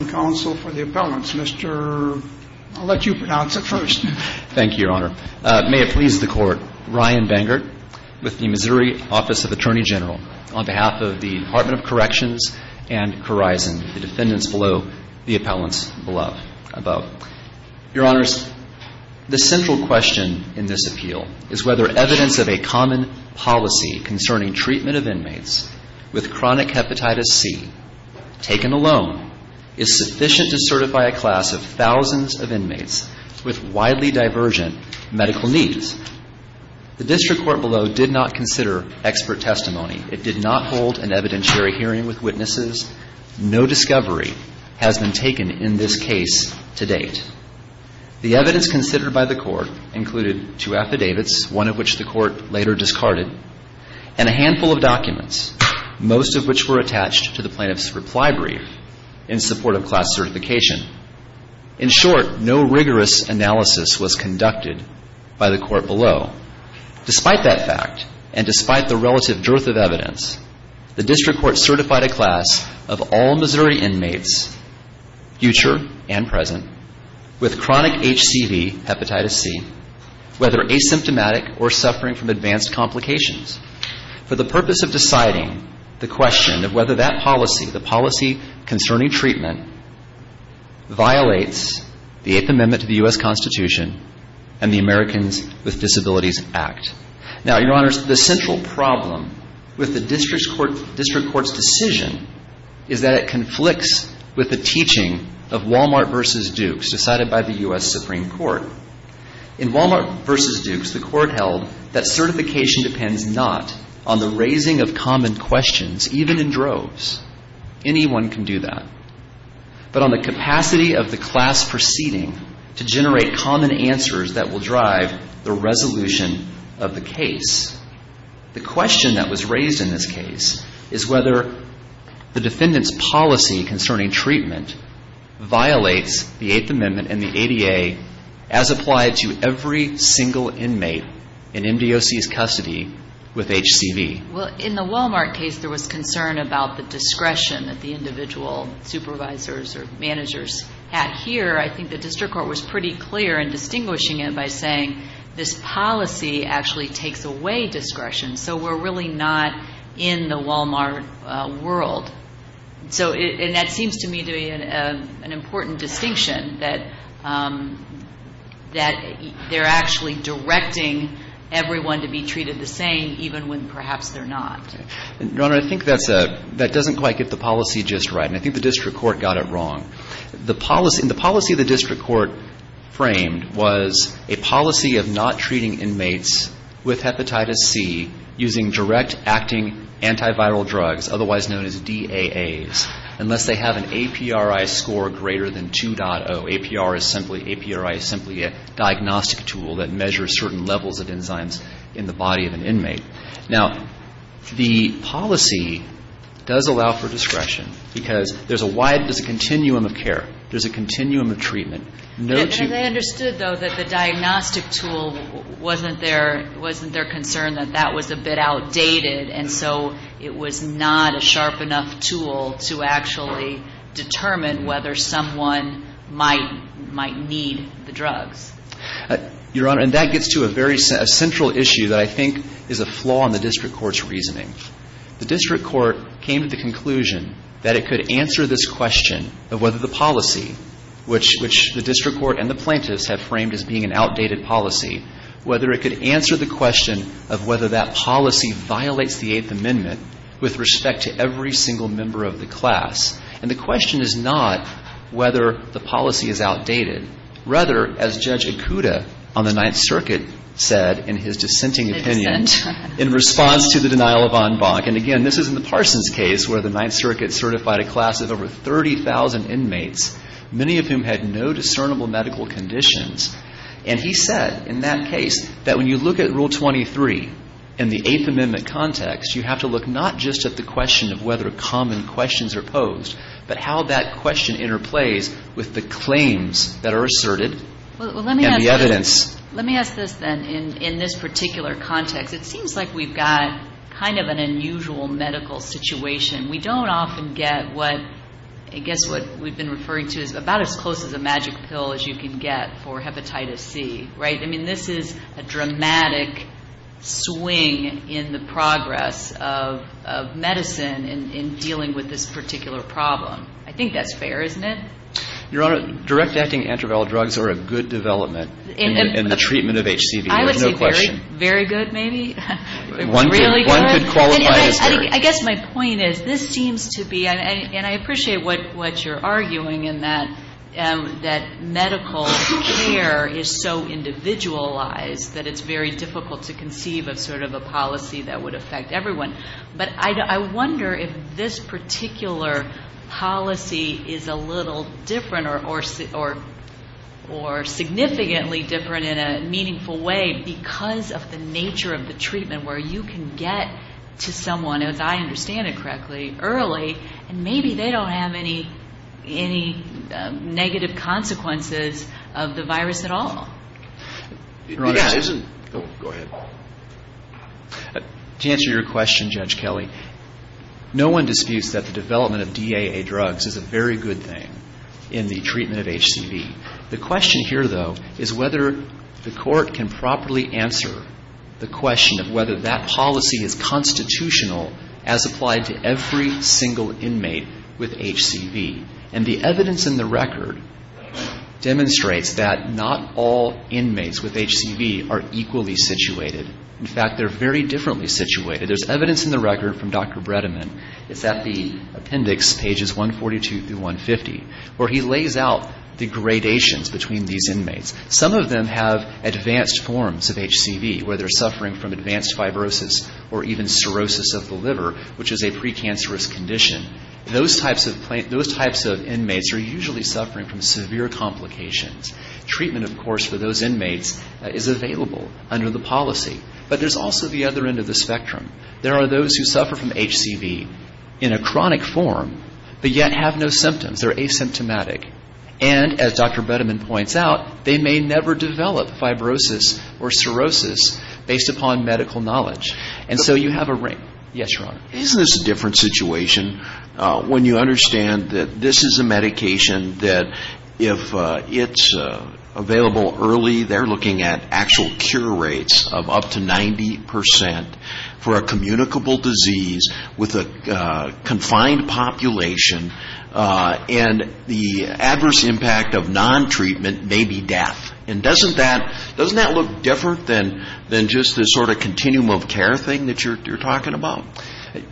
and Counsel for the Appellants. Mr. I'll let you pronounce it first. Thank you, Your Honor. May it please the Court, Ryan Bengert with the Missouri Office of Attorney General on behalf of the Department of Corrections and Corizon, the defendants below, the appellants above. Your Honors, the central question in this appeal is whether evidence of a common policy concerning treatment of inmates with chronic hepatitis C taken alone is sufficient to certify a class of thousands of inmates with widely divergent medical needs. The district court below did not consider expert testimony. It did not hold an evidentiary hearing with witnesses. No discovery has been taken in this case to date. The evidence considered by the court included two affidavits, one of which the court later discarded, and a handful of documents, most of which were attached to the plaintiff's reply brief in support of class certification. In short, no rigorous analysis was conducted by the court below. Despite that fact, and despite the relative dearth of evidence, the district court certified a class of all Missouri inmates, future and present, with chronic HCV, hepatitis C, whether asymptomatic or suffering from advanced complications. For the purpose of deciding the question of whether that policy, the policy concerning treatment, violates the Eighth Amendment to the U.S. Constitution and the Americans with Disabilities Act. Now, Your Honors, the central problem with the district court's decision is that it conflicts with the teaching of Wal-Mart v. Dukes decided by the U.S. Supreme Court. In Wal-Mart v. Dukes, the court held that certification depends not on the raising of common questions, even in droves. Anyone can do that. But on the capacity of the class proceeding to generate common answers that will drive the resolution of the case. The question that was raised in this case is whether the defendant's policy concerning treatment violates the MDOC's custody with HCV. Well, in the Wal-Mart case, there was concern about the discretion that the individual supervisors or managers had. Here, I think the district court was pretty clear in distinguishing it by saying, this policy actually takes away discretion, so we're really not in the Wal-Mart world. So, and that seems to me an important distinction, that they're actually directing everyone to be treated the same, even when perhaps they're not. Your Honor, I think that's a — that doesn't quite get the policy just right. And I think the district court got it wrong. The policy — the policy the district court framed was a policy of not treating inmates with hepatitis C using direct acting antiviral drugs, otherwise known as DAAs, unless they have an APD, which is a drug with an APRI score greater than 2.0. APR is simply — APRI is simply a diagnostic tool that measures certain levels of enzymes in the body of an inmate. Now, the policy does allow for discretion, because there's a wide — there's a continuum of care. There's a continuum of treatment. No two — And, and I understood, though, that the diagnostic tool wasn't their — wasn't their concern, that that was a bit outdated, and so it was not a sharp enough tool to actually determine whether someone might — might need the drugs. Your Honor, and that gets to a very — a central issue that I think is a flaw in the district court's reasoning. The district court came to the conclusion that it could answer this question of whether the policy, which — which the district court and the plaintiffs have framed as being an outdated policy, whether it could answer the question of whether that policy violates the Eighth Amendment with respect to every single member of the class. And the question is not whether the policy is outdated. Rather, as Judge Ikuda on the Ninth Circuit said in his dissenting opinion — Dissent. — in response to the denial of en banc. And, again, this is in the Parsons case, where the Ninth Circuit certified a class of over 30,000 inmates, many of whom had no discernible medical conditions. And he said in that case that when you look at Rule 23 in the Eighth Amendment context, you have to look not just at the question of whether common questions are posed, but how that question interplays with the claims that are asserted and the evidence. Well, let me ask — let me ask this, then, in this particular context. It seems like we've got kind of an unusual medical situation. We don't often get what — I guess what we've been referring to is about as close as a magic pill as you can get for hepatitis C, right? I mean, this is a dramatic swing in the progress of medicine in New York. And we've been dealing with this particular problem. I think that's fair, isn't it? Your Honor, direct-acting antiviral drugs are a good development in the treatment of HCV. There's no question. I would say very — very good, maybe. One could — It's really good. One could qualify as fair. I guess my point is, this seems to be — and I appreciate what you're arguing in that medical care is so individualized that it's very difficult to conceive of sort of a policy that would affect everyone. But I wonder if this particular policy is a little different or significantly different in a meaningful way because of the nature of the treatment where you can get to someone, as I understand it correctly, early, and maybe they don't have any negative consequences of the virus at all. Your Honor, this isn't — Go ahead. To answer your question, Judge Kelly, no one disputes that the development of DAA drugs is a very good thing in the treatment of HCV. The question here, though, is whether the Court can properly answer the question of whether that policy is constitutional as applied to every single inmate with HCV. And the evidence in the record demonstrates that not all inmates with HCV are equally situated. In fact, they're very differently situated. There's evidence in the record from Dr. Bredeman. It's at the appendix, pages 142 through 150, where he lays out the gradations between these inmates. Some of them have advanced forms of HCV, where they're suffering from advanced fibrosis or even cirrhosis of the liver, which is a precancerous condition. Those types of inmates are usually suffering from severe complications. Treatment, of course, for those inmates is available under the policy. But there's also the other end of the spectrum. There are those who suffer from HCV in a chronic form but yet have no symptoms. They're asymptomatic. And as Dr. Bredeman points out, they may never develop fibrosis or cirrhosis based upon medical knowledge. And so you have a — Yes, Your Honor. Isn't this a different situation when you understand that this is a medication that if it's available early, they're looking at actual cure rates of up to 90% for a communicable disease with a confined population. And the adverse impact of non-treatment may be death. And doesn't that look different than just this sort of cumulative care thing that you're talking about?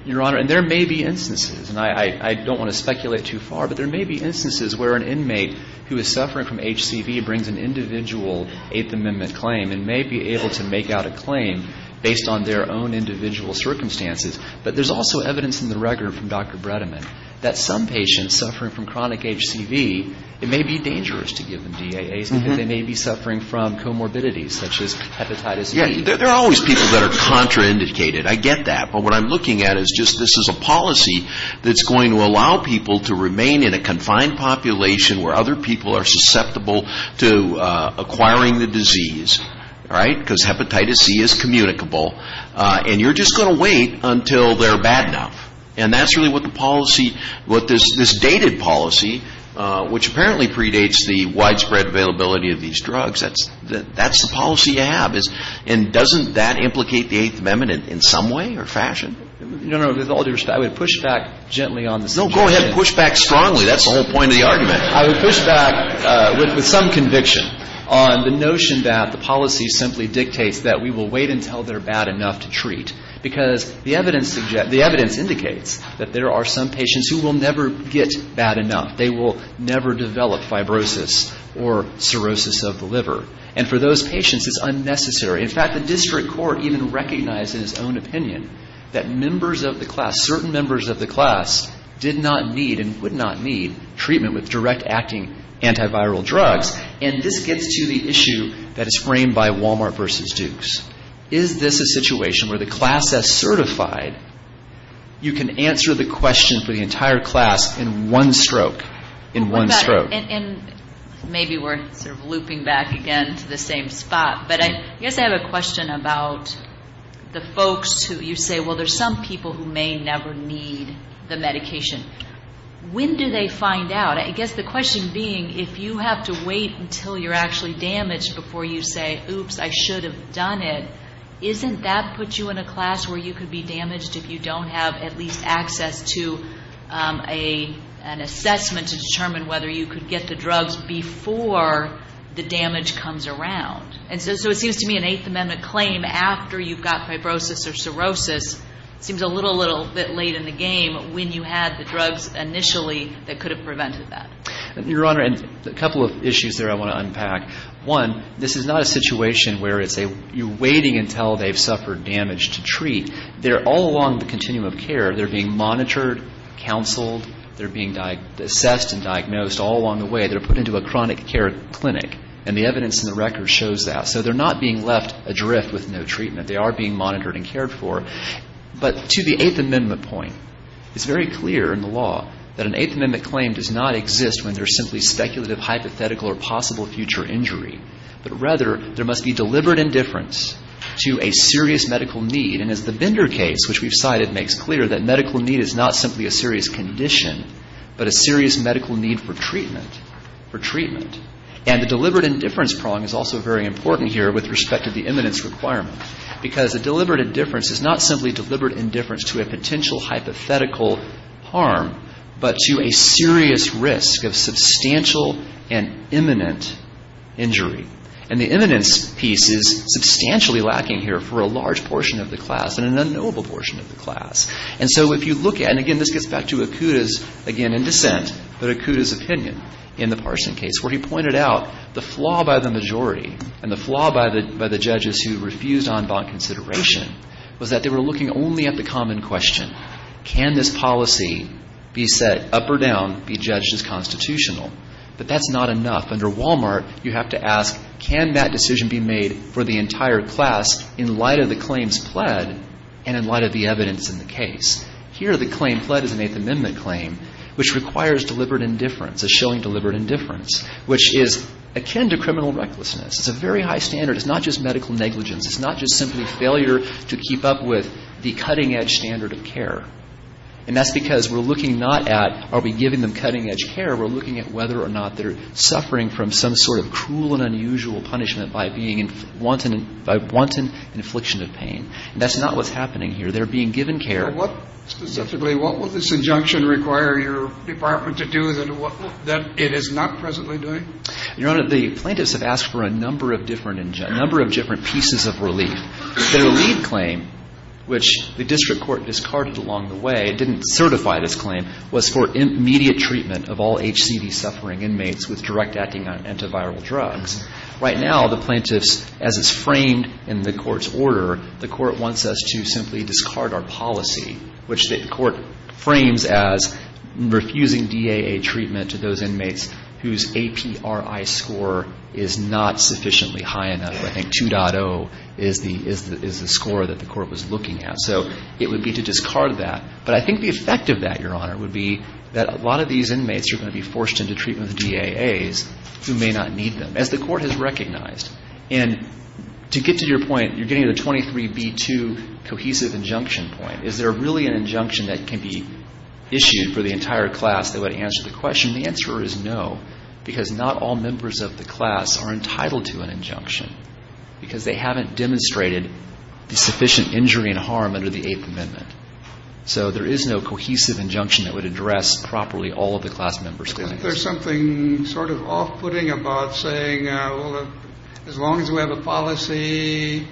Your Honor, and there may be instances, and I don't want to speculate too far, but there may be instances where an inmate who is suffering from HCV brings an individual Eighth Amendment claim and may be able to make out a claim based on their own individual circumstances. But there's also evidence in the record from Dr. Bredeman that some patients suffering from chronic HCV, it may be dangerous to give them DAAs and that they may be suffering from comorbidities such as hepatitis B. There are always people that are contraindicated. I get that. But what I'm looking at is just this is a policy that's going to allow people to remain in a confined population where other people are susceptible to acquiring the disease, right? Because hepatitis C is communicable. And you're just going to wait until they're bad enough. And that's really what the policy — what this dated policy, which apparently predates the widespread availability of these drugs, that's the policy you have. And doesn't that implicate the Eighth Amendment in some way or fashion? No, no. With all due respect, I would push back gently on this. No, go ahead. Push back strongly. That's the whole point of the argument. I would push back with some conviction on the notion that the policy simply dictates that we will wait until they're bad enough to treat, because the evidence suggests — the evidence indicates that there are some patients who will never get bad enough. They will never develop fibrosis or cirrhosis of the liver. And for those patients, it's unnecessary. In fact, the district court even recognized in its own opinion that members of the class, certain members of the class, did not need and would not need treatment with direct-acting antiviral drugs. And this gets to the issue that is framed by Walmart versus Dukes. Is this a situation where the class that's certified, you can answer the question for the entire class in one stroke? In one stroke. And maybe we're sort of looping back again to the same spot. But I guess I have a question about the folks who you say, well, there's some people who may never need the medication. When do they find out? I guess the question being, if you have to wait until you're actually damaged before you say, oops, I should have done it, isn't that put you in a class where you could be damaged if you don't have at least access to an assessment to determine whether you could get the drugs before the damage comes around? And so it seems to me an Eighth Amendment claim, after you've got fibrosis or cirrhosis, seems a little, little bit late in the game when you had the drugs initially that could have prevented that. Your Honor, a couple of issues there I want to unpack. One, this is not a situation where you're waiting until they've suffered damage to treat. All along the continuum of care, they're being monitored, counseled, they're being assessed and diagnosed all along the way. They're put into a chronic care clinic. And the evidence in the record shows that. So they're not being left adrift with no treatment. They are being monitored and cared for. But to the Eighth Amendment point, it's very clear in the law that an Eighth Amendment claim does not exist when there's simply speculative, hypothetical or possible future injury. But rather, there must be deliberate indifference to a serious medical need. And as the Binder case, which we've cited, makes clear that medical need is not simply a serious condition, but a serious medical need for treatment, for treatment. And the deliberate indifference prong is also very important here with respect to the imminence requirement. Because a deliberate indifference is not simply deliberate indifference to a potential hypothetical harm, but to a serious risk of substantial and imminent injury. And the imminence piece is substantially lacking here for a large portion of the class and an unknowable portion of the class. And so if you look at, and again this gets back to Akuta's, again in dissent, but Akuta's opinion in the Parson case, where he pointed out the flaw by the majority and the flaw by the judges who refused en banc consideration was that they were looking only at the common question. Can this policy be set up or down, be judged as constitutional? But that's not enough. Under Walmart, you have to ask, can that decision be made for the entire class in light of the claims pled and in light of the evidence in the case? Here, the claim pled is an Eighth Amendment claim, which requires deliberate indifference, a showing deliberate indifference, which is akin to criminal recklessness. It's a very high standard. It's not just medical negligence. It's not just simply failure to keep up with the cutting-edge standard of care. And that's because we're looking not at are we giving them cutting-edge care, we're looking at whether or not they're suffering from some sort of cruel and unusual punishment by wanton infliction of pain. That's not what's happening here. They're being given care. What specifically, what will this injunction require your department to do that it is not presently doing? Your Honor, the plaintiffs have asked for a number of different, a number of different pieces of relief. Their lead claim, which the district court discarded along the way, it didn't certify this claim, was for immediate treatment of all HCV-suffering inmates with direct acting on antiviral drugs. Right now, the plaintiffs, as it's framed in the court's order, the court wants us to simply discard our policy, which the court frames as refusing DAA treatment to those inmates whose APRI score is not sufficiently high enough. I think 2.0 is the score that the court was looking at. So it would be to discard that. But I think the effect of that, Your Honor, would be that a lot of these inmates are going to be forced into treatment with DAAs who may not need them, as the court has recognized. And to get to your point, you're getting to the 23B2 cohesive injunction point. Is there really an injunction that can be issued for the entire class that would answer the question? The answer is no, because not all members of the class are entitled to an injunction. Because they haven't demonstrated the sufficient injury and harm under the Eighth Amendment. So there is no cohesive injunction that would address properly all of the class members' conditions. There's something sort of off-putting about saying, well, as long as we have a policy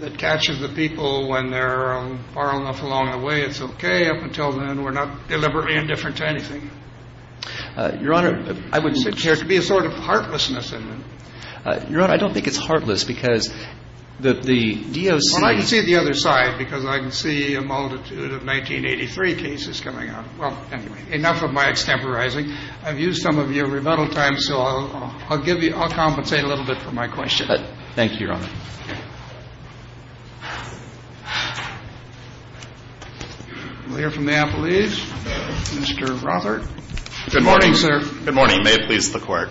that catches the people when they're far enough along the way, it's okay. Up until then, we're not deliberately indifferent to anything. Your Honor, I wouldn't... There would appear to be a sort of heartlessness in it. Your Honor, I don't think it's heartless, because the DOC... Well, I can see it the other side, because I can see a multitude of 1983 cases coming up. Well, anyway, enough of my extemporizing. I've used some of your rebuttal time, so I'll compensate a little bit for my question. Thank you, Your Honor. We'll hear from the appellees. Mr. Rother. Good morning, sir. Good morning. May it please the Court.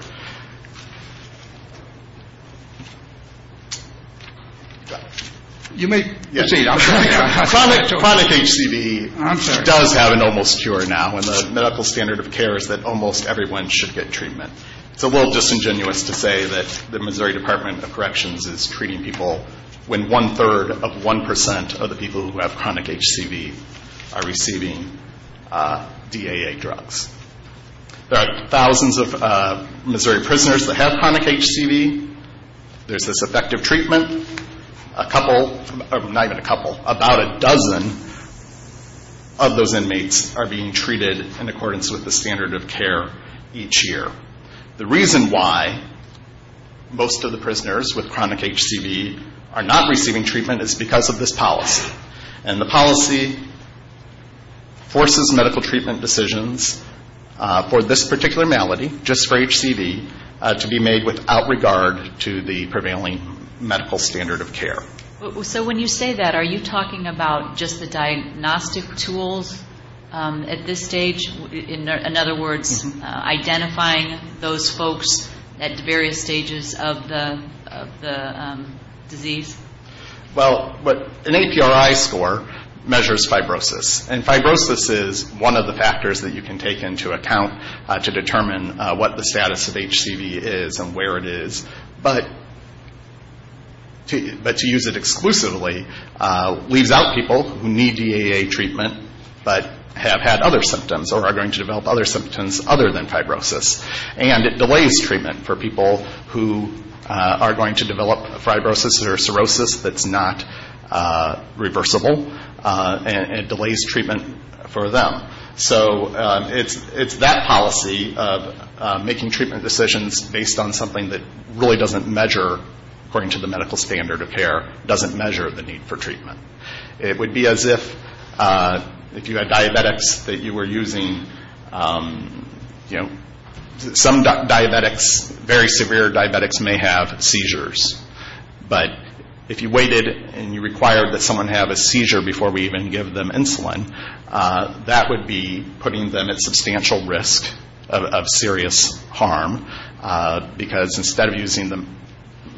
You may proceed. Chronic HCV does have an almost cure now, and the medical standard of care is that almost everyone should get treatment. It's a little disingenuous to say that the Missouri Department of Corrections is treating people when one-third of 1% of the people who have chronic HCV are receiving DAA drugs. There are thousands of Missouri prisoners that have chronic HCV. There's this effective treatment. About a dozen of those inmates are being treated in accordance with the standard of care each year. The reason why most of the prisoners with chronic HCV are not receiving treatment is because of this policy, and the policy forces medical treatment decisions for this particular malady, just for HCV, to be made without regard to the prevailing medical standard of care. So when you say that, are you talking about just the diagnostic tools at this stage? In other words, identifying those folks at various stages of the disease? Well, an APRI score measures fibrosis, and fibrosis is one of the factors that you can take into account to determine what the status of HCV is and where it is. But to use it exclusively leaves out people who need DAA treatment but have had other symptoms or are going to develop other symptoms other than fibrosis. And it delays treatment for people who are going to develop fibrosis or cirrhosis that's not reversible, and it delays treatment for them. So it's that policy of making treatment decisions based on something that really doesn't measure, according to the medical standard of care, doesn't measure the need for treatment. It would be as if you had diabetics that you were using. Some diabetics, very severe diabetics, may have seizures. But if you waited and you required that someone have a seizure before we even give them insulin, that would be putting them at substantial risk of serious harm because instead of using the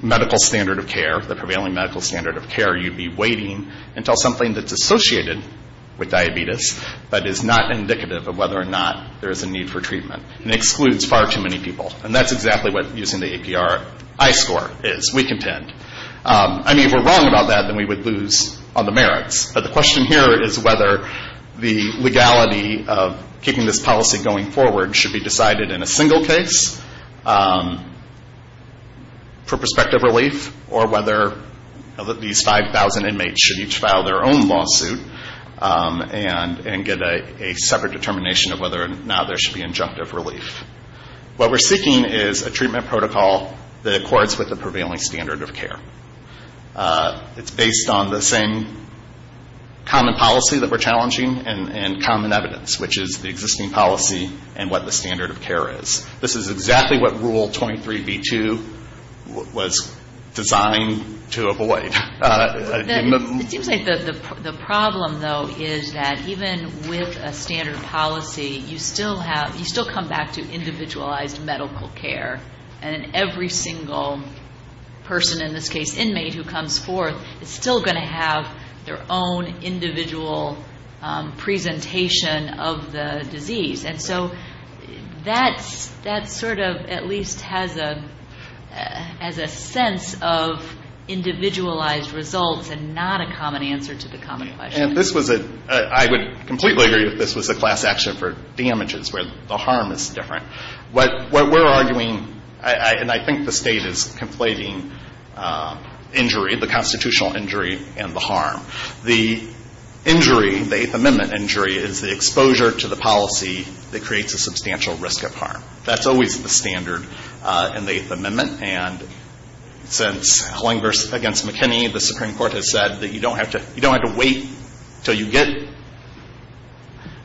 medical standard of care, the prevailing medical standard of care, you'd be waiting until something that's associated with diabetes but is not indicative of whether or not there is a need for treatment. And it excludes far too many people. And that's exactly what using the APR I-score is. We contend. I mean, if we're wrong about that, then we would lose on the merits. But the question here is whether the legality of keeping this policy going forward should be decided in a single case for prospective relief or whether these 5,000 inmates should each file their own lawsuit and get a separate determination of whether or not there should be injunctive relief. What we're seeking is a treatment protocol that accords with the prevailing standard of care. It's based on the same common policy that we're challenging and common evidence, which is the existing policy and what the standard of care is. This is exactly what Rule 23b-2 was designed to avoid. It seems like the problem, though, is that even with a standard policy, you still come back to individualized medical care. And every single person, in this case, inmate, who comes forth is still going to have their own individual presentation of the disease. And so that sort of at least has a sense of individualized results and not a common answer to the common question. I would completely agree that this was a class action for damages where the harm is different. What we're arguing, and I think the State is conflating injury, the constitutional injury and the harm. The injury, the Eighth Amendment injury, is the exposure to the policy that creates a substantial risk of harm. That's always the standard in the Eighth Amendment. And since Hlinghurst against McKinney, the Supreme Court has said that you don't have to wait until you get,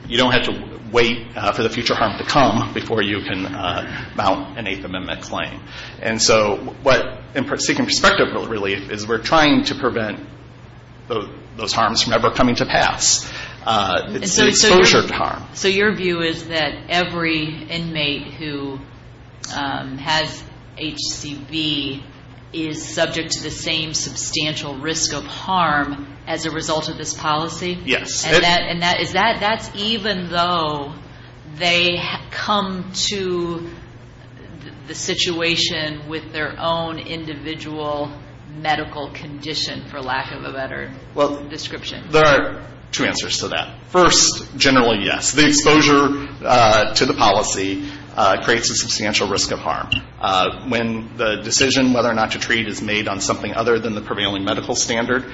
you don't have to wait for the future harm to come before you can mount an Eighth Amendment claim. And so what, in seeking prospective relief, is we're trying to prevent those harms from ever coming to pass. It's the exposure to harm. So your view is that every inmate who has HCV is subject to the same substantial risk of harm as a result of this policy? Yes. And that's even though they come to the situation with their own individual medical condition, for lack of a better description? Well, there are two answers to that. First, generally, yes. The exposure to the policy creates a substantial risk of harm. When the decision whether or not to treat is made on something other than the prevailing medical standard,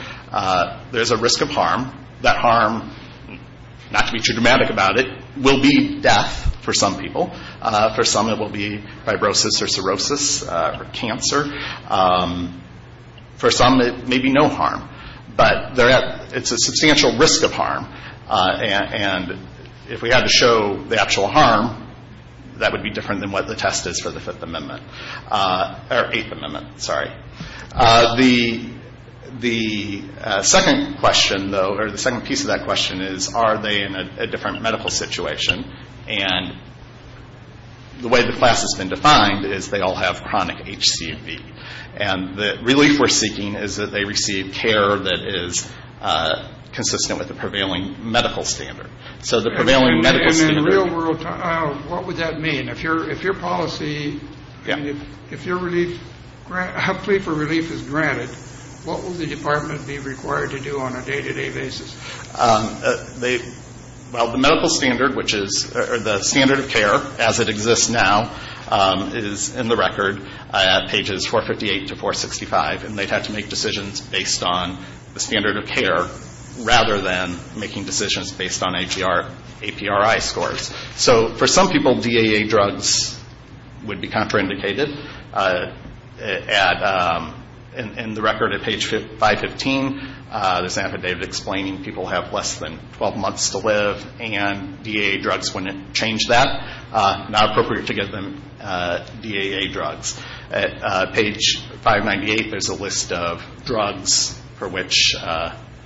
there's a risk of harm. That harm, not to be too dramatic about it, will be death for some people. For some, it will be fibrosis or cirrhosis or cancer. For some, it may be no harm. But it's a substantial risk of harm. And if we had to show the actual harm, that would be different than what the test is for the Fifth Amendment or Eighth Amendment, sorry. The second question, though, or the second piece of that question is, are they in a different medical situation? And the way the class has been defined is they all have chronic HCV. And the relief we're seeking is that they receive care that is consistent with the prevailing medical standard. So the prevailing medical standard. And in real world time, what would that mean? If your policy, if your plea for relief is granted, what will the department be required to do on a day-to-day basis? Well, the medical standard, which is the standard of care as it exists now, is in the record at pages 458 to 465. And they'd have to make decisions based on the standard of care rather than making decisions based on APRI scores. So for some people, DAA drugs would be contraindicated. In the record at page 515, there's an affidavit explaining people have less than 12 months to live and DAA drugs wouldn't change that. Not appropriate to give them DAA drugs. At page 598, there's a list of drugs for which DAA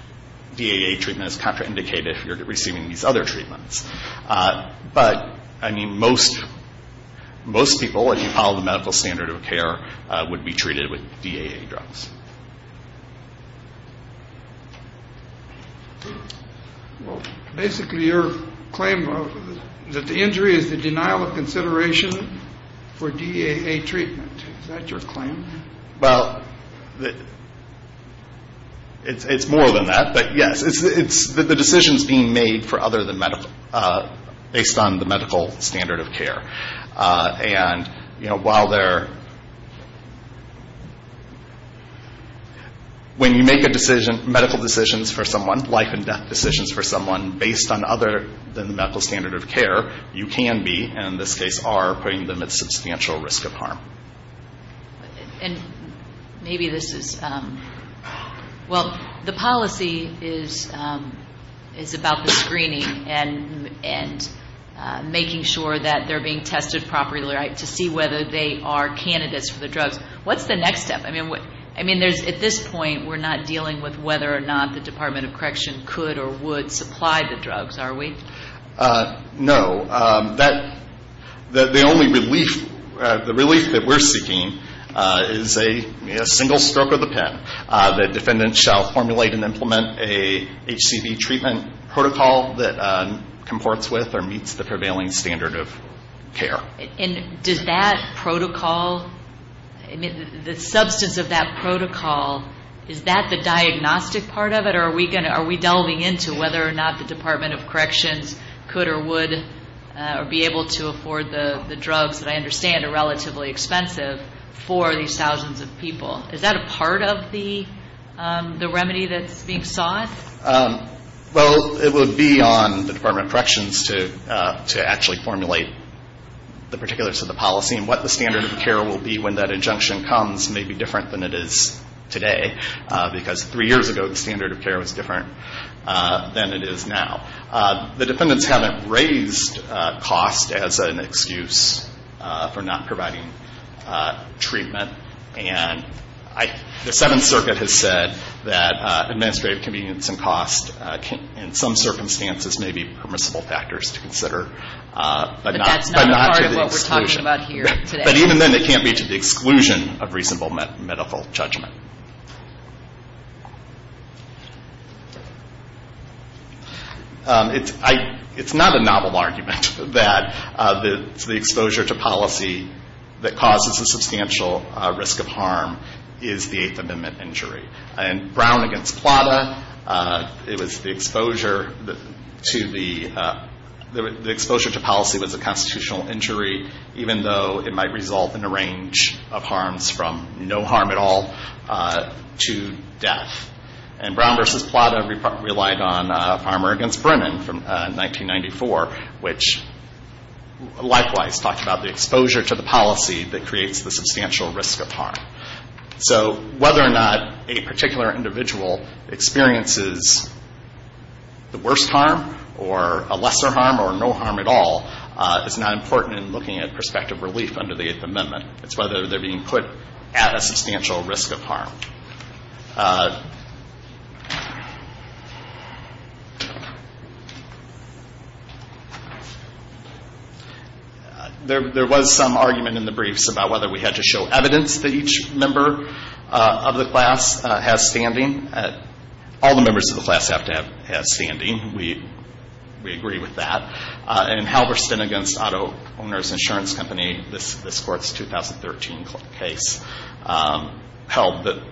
treatment is contraindicated if you're receiving these other treatments. But, I mean, most people, if you follow the medical standard of care, would be treated with DAA drugs. Well, basically your claim is that the injury is the denial of consideration for DAA treatment. Is that your claim? Well, it's more than that. But, yes, the decision is being made based on the medical standard of care. And, you know, while there are, when you make a decision, medical decisions for someone, life and death decisions for someone, based on other than the medical standard of care, you can be, and in this case are, putting them at substantial risk of harm. And maybe this is, well, the policy is about the screening and making sure that they're being tested properly, right, to see whether they are candidates for the drugs. What's the next step? I mean, at this point, we're not dealing with whether or not the Department of Correction could or would supply the drugs, are we? No. The only relief, the relief that we're seeking is a single stroke of the pen. The defendant shall formulate and implement a HCV treatment protocol that comports with or meets the prevailing standard of care. And does that protocol, I mean, the substance of that protocol, is that the diagnostic part of it or are we delving into whether or not the Department of Corrections could or would or be able to afford the drugs that I understand are relatively expensive for these thousands of people? Is that a part of the remedy that's being sought? Well, it would be on the Department of Corrections to actually formulate the particulars of the policy and what the standard of care will be when that injunction comes may be different than it is today because three years ago the standard of care was different than it is now. The defendants haven't raised cost as an excuse for not providing treatment. And the Seventh Circuit has said that administrative convenience and cost in some circumstances may be permissible factors to consider but not to the exclusion. But that's not part of what we're talking about here today. It's not a novel argument that the exposure to policy that causes a substantial risk of harm is the Eighth Amendment injury. And Brown against Plata, it was the exposure to the ‑‑ the exposure to policy was a constitutional injury even though it might result in a range of harms from no harm at all to death. And Brown versus Plata relied on Farmer against Brennan from 1994, which likewise talked about the exposure to the policy that creates the substantial risk of harm. So whether or not a particular individual experiences the worst harm or a lesser harm or no harm at all is not important in looking at prospective relief under the Eighth Amendment. It's whether they're being put at a substantial risk of harm. There was some argument in the briefs about whether we had to show evidence that each member of the class has standing. All the members of the class have to have standing. We agree with that. And Halberstin against Auto Owners Insurance Company, this court's 2013 case, held that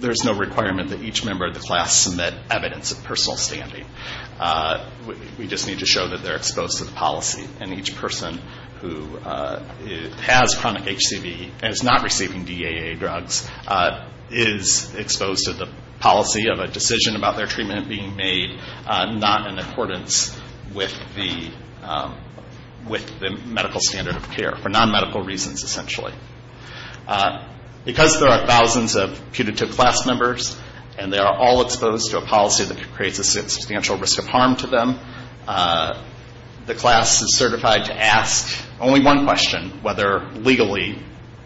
there's no requirement that each member of the class submit evidence of personal standing. We just need to show that they're exposed to the policy. And each person who has chronic HCV and is not receiving DAA drugs is exposed to the policy of a decision about their treatment being made not in accordance with the medical standard of care for non-medical reasons, essentially. Because there are thousands of putative class members and they are all exposed to a policy that creates a substantial risk of harm to them, the class is certified to ask only one question, whether legally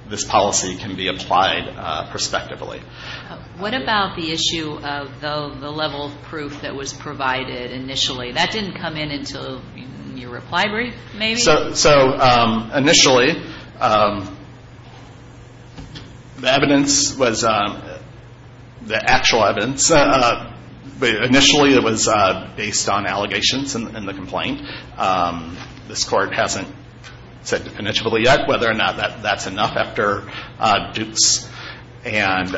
this policy can be applied prospectively. What about the issue of the level of proof that was provided initially? That didn't come in until your reply brief, maybe? So initially, the evidence was the actual evidence. Initially, it was based on allegations in the complaint. This court hasn't said definitively yet whether or not that's enough after Dukes. And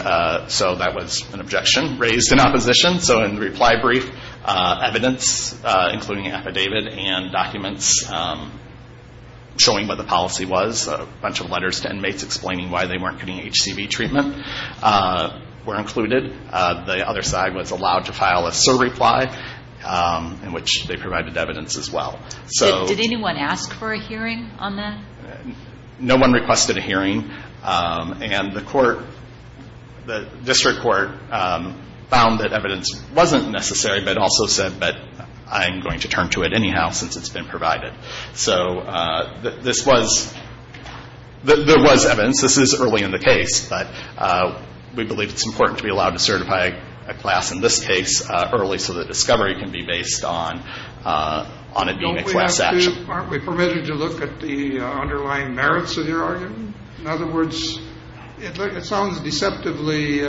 so that was an objection raised in opposition. So in the reply brief, evidence, including affidavit and documents, showing what the policy was, a bunch of letters to inmates explaining why they weren't getting HCV treatment were included. The other side was allowed to file a SOAR reply, in which they provided evidence as well. Did anyone ask for a hearing on that? No one requested a hearing. And the court, the district court, found that evidence wasn't necessary but also said, but I'm going to turn to it anyhow since it's been provided. So this was, there was evidence. This is early in the case, but we believe it's important to be allowed to certify a class in this case early so that discovery can be based on it being a class action. Aren't we permitted to look at the underlying merits of your argument? In other words, it sounds deceptively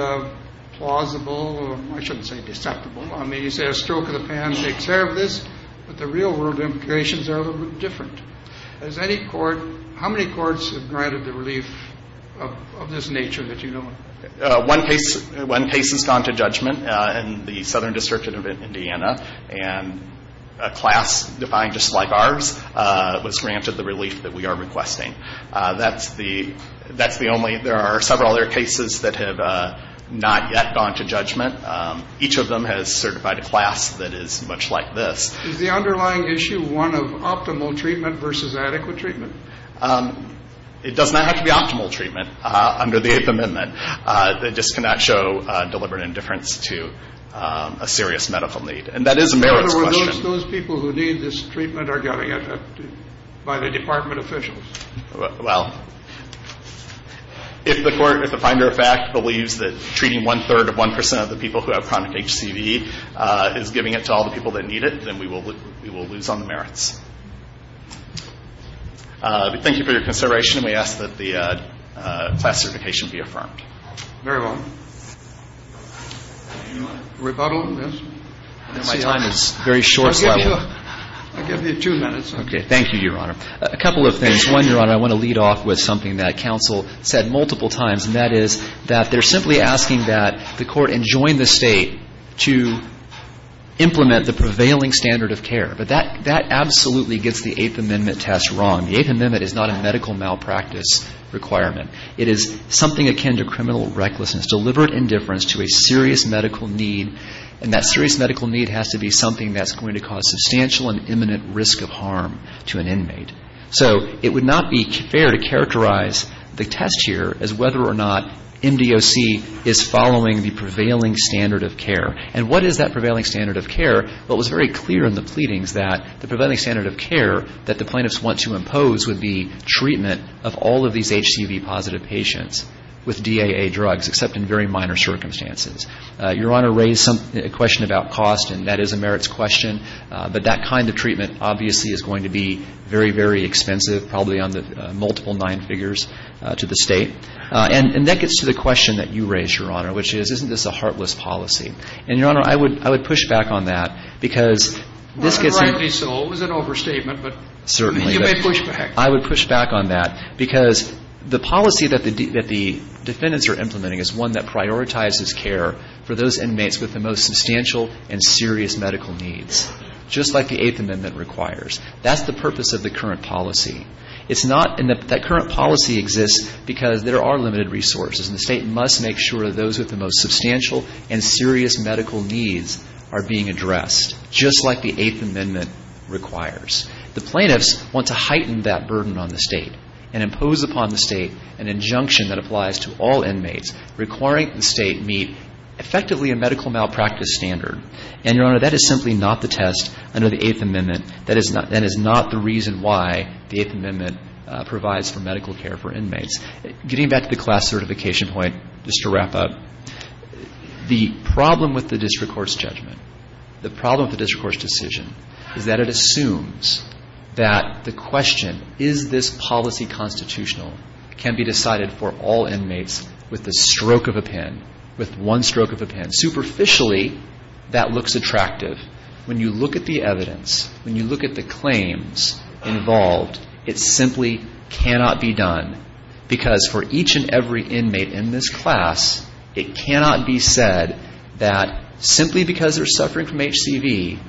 plausible. I shouldn't say deceptible. I mean, you say a stroke of the pen takes care of this, but the real-world implications are a little bit different. Has any court, how many courts have granted the relief of this nature that you know of? One case has gone to judgment in the southern district of Indiana, and a class defined just like ours was granted the relief that we are requesting. That's the only, there are several other cases that have not yet gone to judgment. Each of them has certified a class that is much like this. Is the underlying issue one of optimal treatment versus adequate treatment? It does not have to be optimal treatment under the Eighth Amendment. It just cannot show deliberate indifference to a serious medical need. And that is a merits question. In other words, those people who need this treatment are getting it by the department officials. Well, if the court, if the finder of fact, believes that treating one-third of 1% of the people who have chronic HCV is giving it to all the people that need it, then we will lose on the merits. Thank you for your consideration, and we ask that the class certification be affirmed. Very well. Rebuttal? Yes. My time is very short. I'll give you two minutes. Okay. Thank you, Your Honor. A couple of things. One, Your Honor, I want to lead off with something that counsel said multiple times, and that is that they're simply asking that the court enjoin the State to implement the prevailing standard of care. But that absolutely gets the Eighth Amendment test wrong. The Eighth Amendment is not a medical malpractice requirement. It is something akin to criminal recklessness, deliberate indifference to a serious medical need, and that serious medical need has to be something that's going to cause substantial and imminent risk of harm to an inmate. So it would not be fair to characterize the test here as whether or not MDOC is following the prevailing standard of care. And what is that prevailing standard of care? Well, it was very clear in the pleadings that the prevailing standard of care that the plaintiffs want to impose would be treatment of all of these HCV-positive patients with DAA drugs, except in very minor circumstances. Your Honor raised a question about cost, and that is a merits question, but that kind of treatment obviously is going to be very, very expensive, probably on the multiple nine figures to the State. And that gets to the question that you raised, Your Honor, which is, isn't this a heartless policy? And, Your Honor, I would push back on that, because this gets to the point. Well, rightly so. It was an overstatement, but you may push back. I would push back on that, because the policy that the defendants are implementing is one that prioritizes care for those inmates with the most substantial and serious medical needs, just like the Eighth Amendment requires. That's the purpose of the current policy. It's not, and that current policy exists because there are limited resources, and the State must make sure that those with the most substantial and serious medical needs are being addressed, just like the Eighth Amendment requires. The plaintiffs want to heighten that burden on the State and impose upon the State an injunction that applies to all inmates requiring the State meet effectively a medical malpractice standard. And, Your Honor, that is simply not the test under the Eighth Amendment. That is not the reason why the Eighth Amendment provides for medical care for inmates. Getting back to the class certification point, just to wrap up, the problem with the question, is this policy constitutional, can be decided for all inmates with the stroke of a pen, with one stroke of a pen. Superficially, that looks attractive. When you look at the evidence, when you look at the claims involved, it simply cannot be done, because for each and every inmate in this class, it cannot be said that simply because they're a stroke of a pen,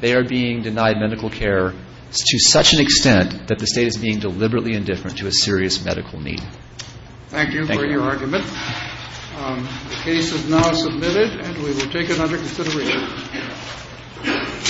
they're not being cared for, to such an extent that the State is being deliberately indifferent to a serious medical need. Thank you for your argument. The case is now submitted, and we will take it under consideration.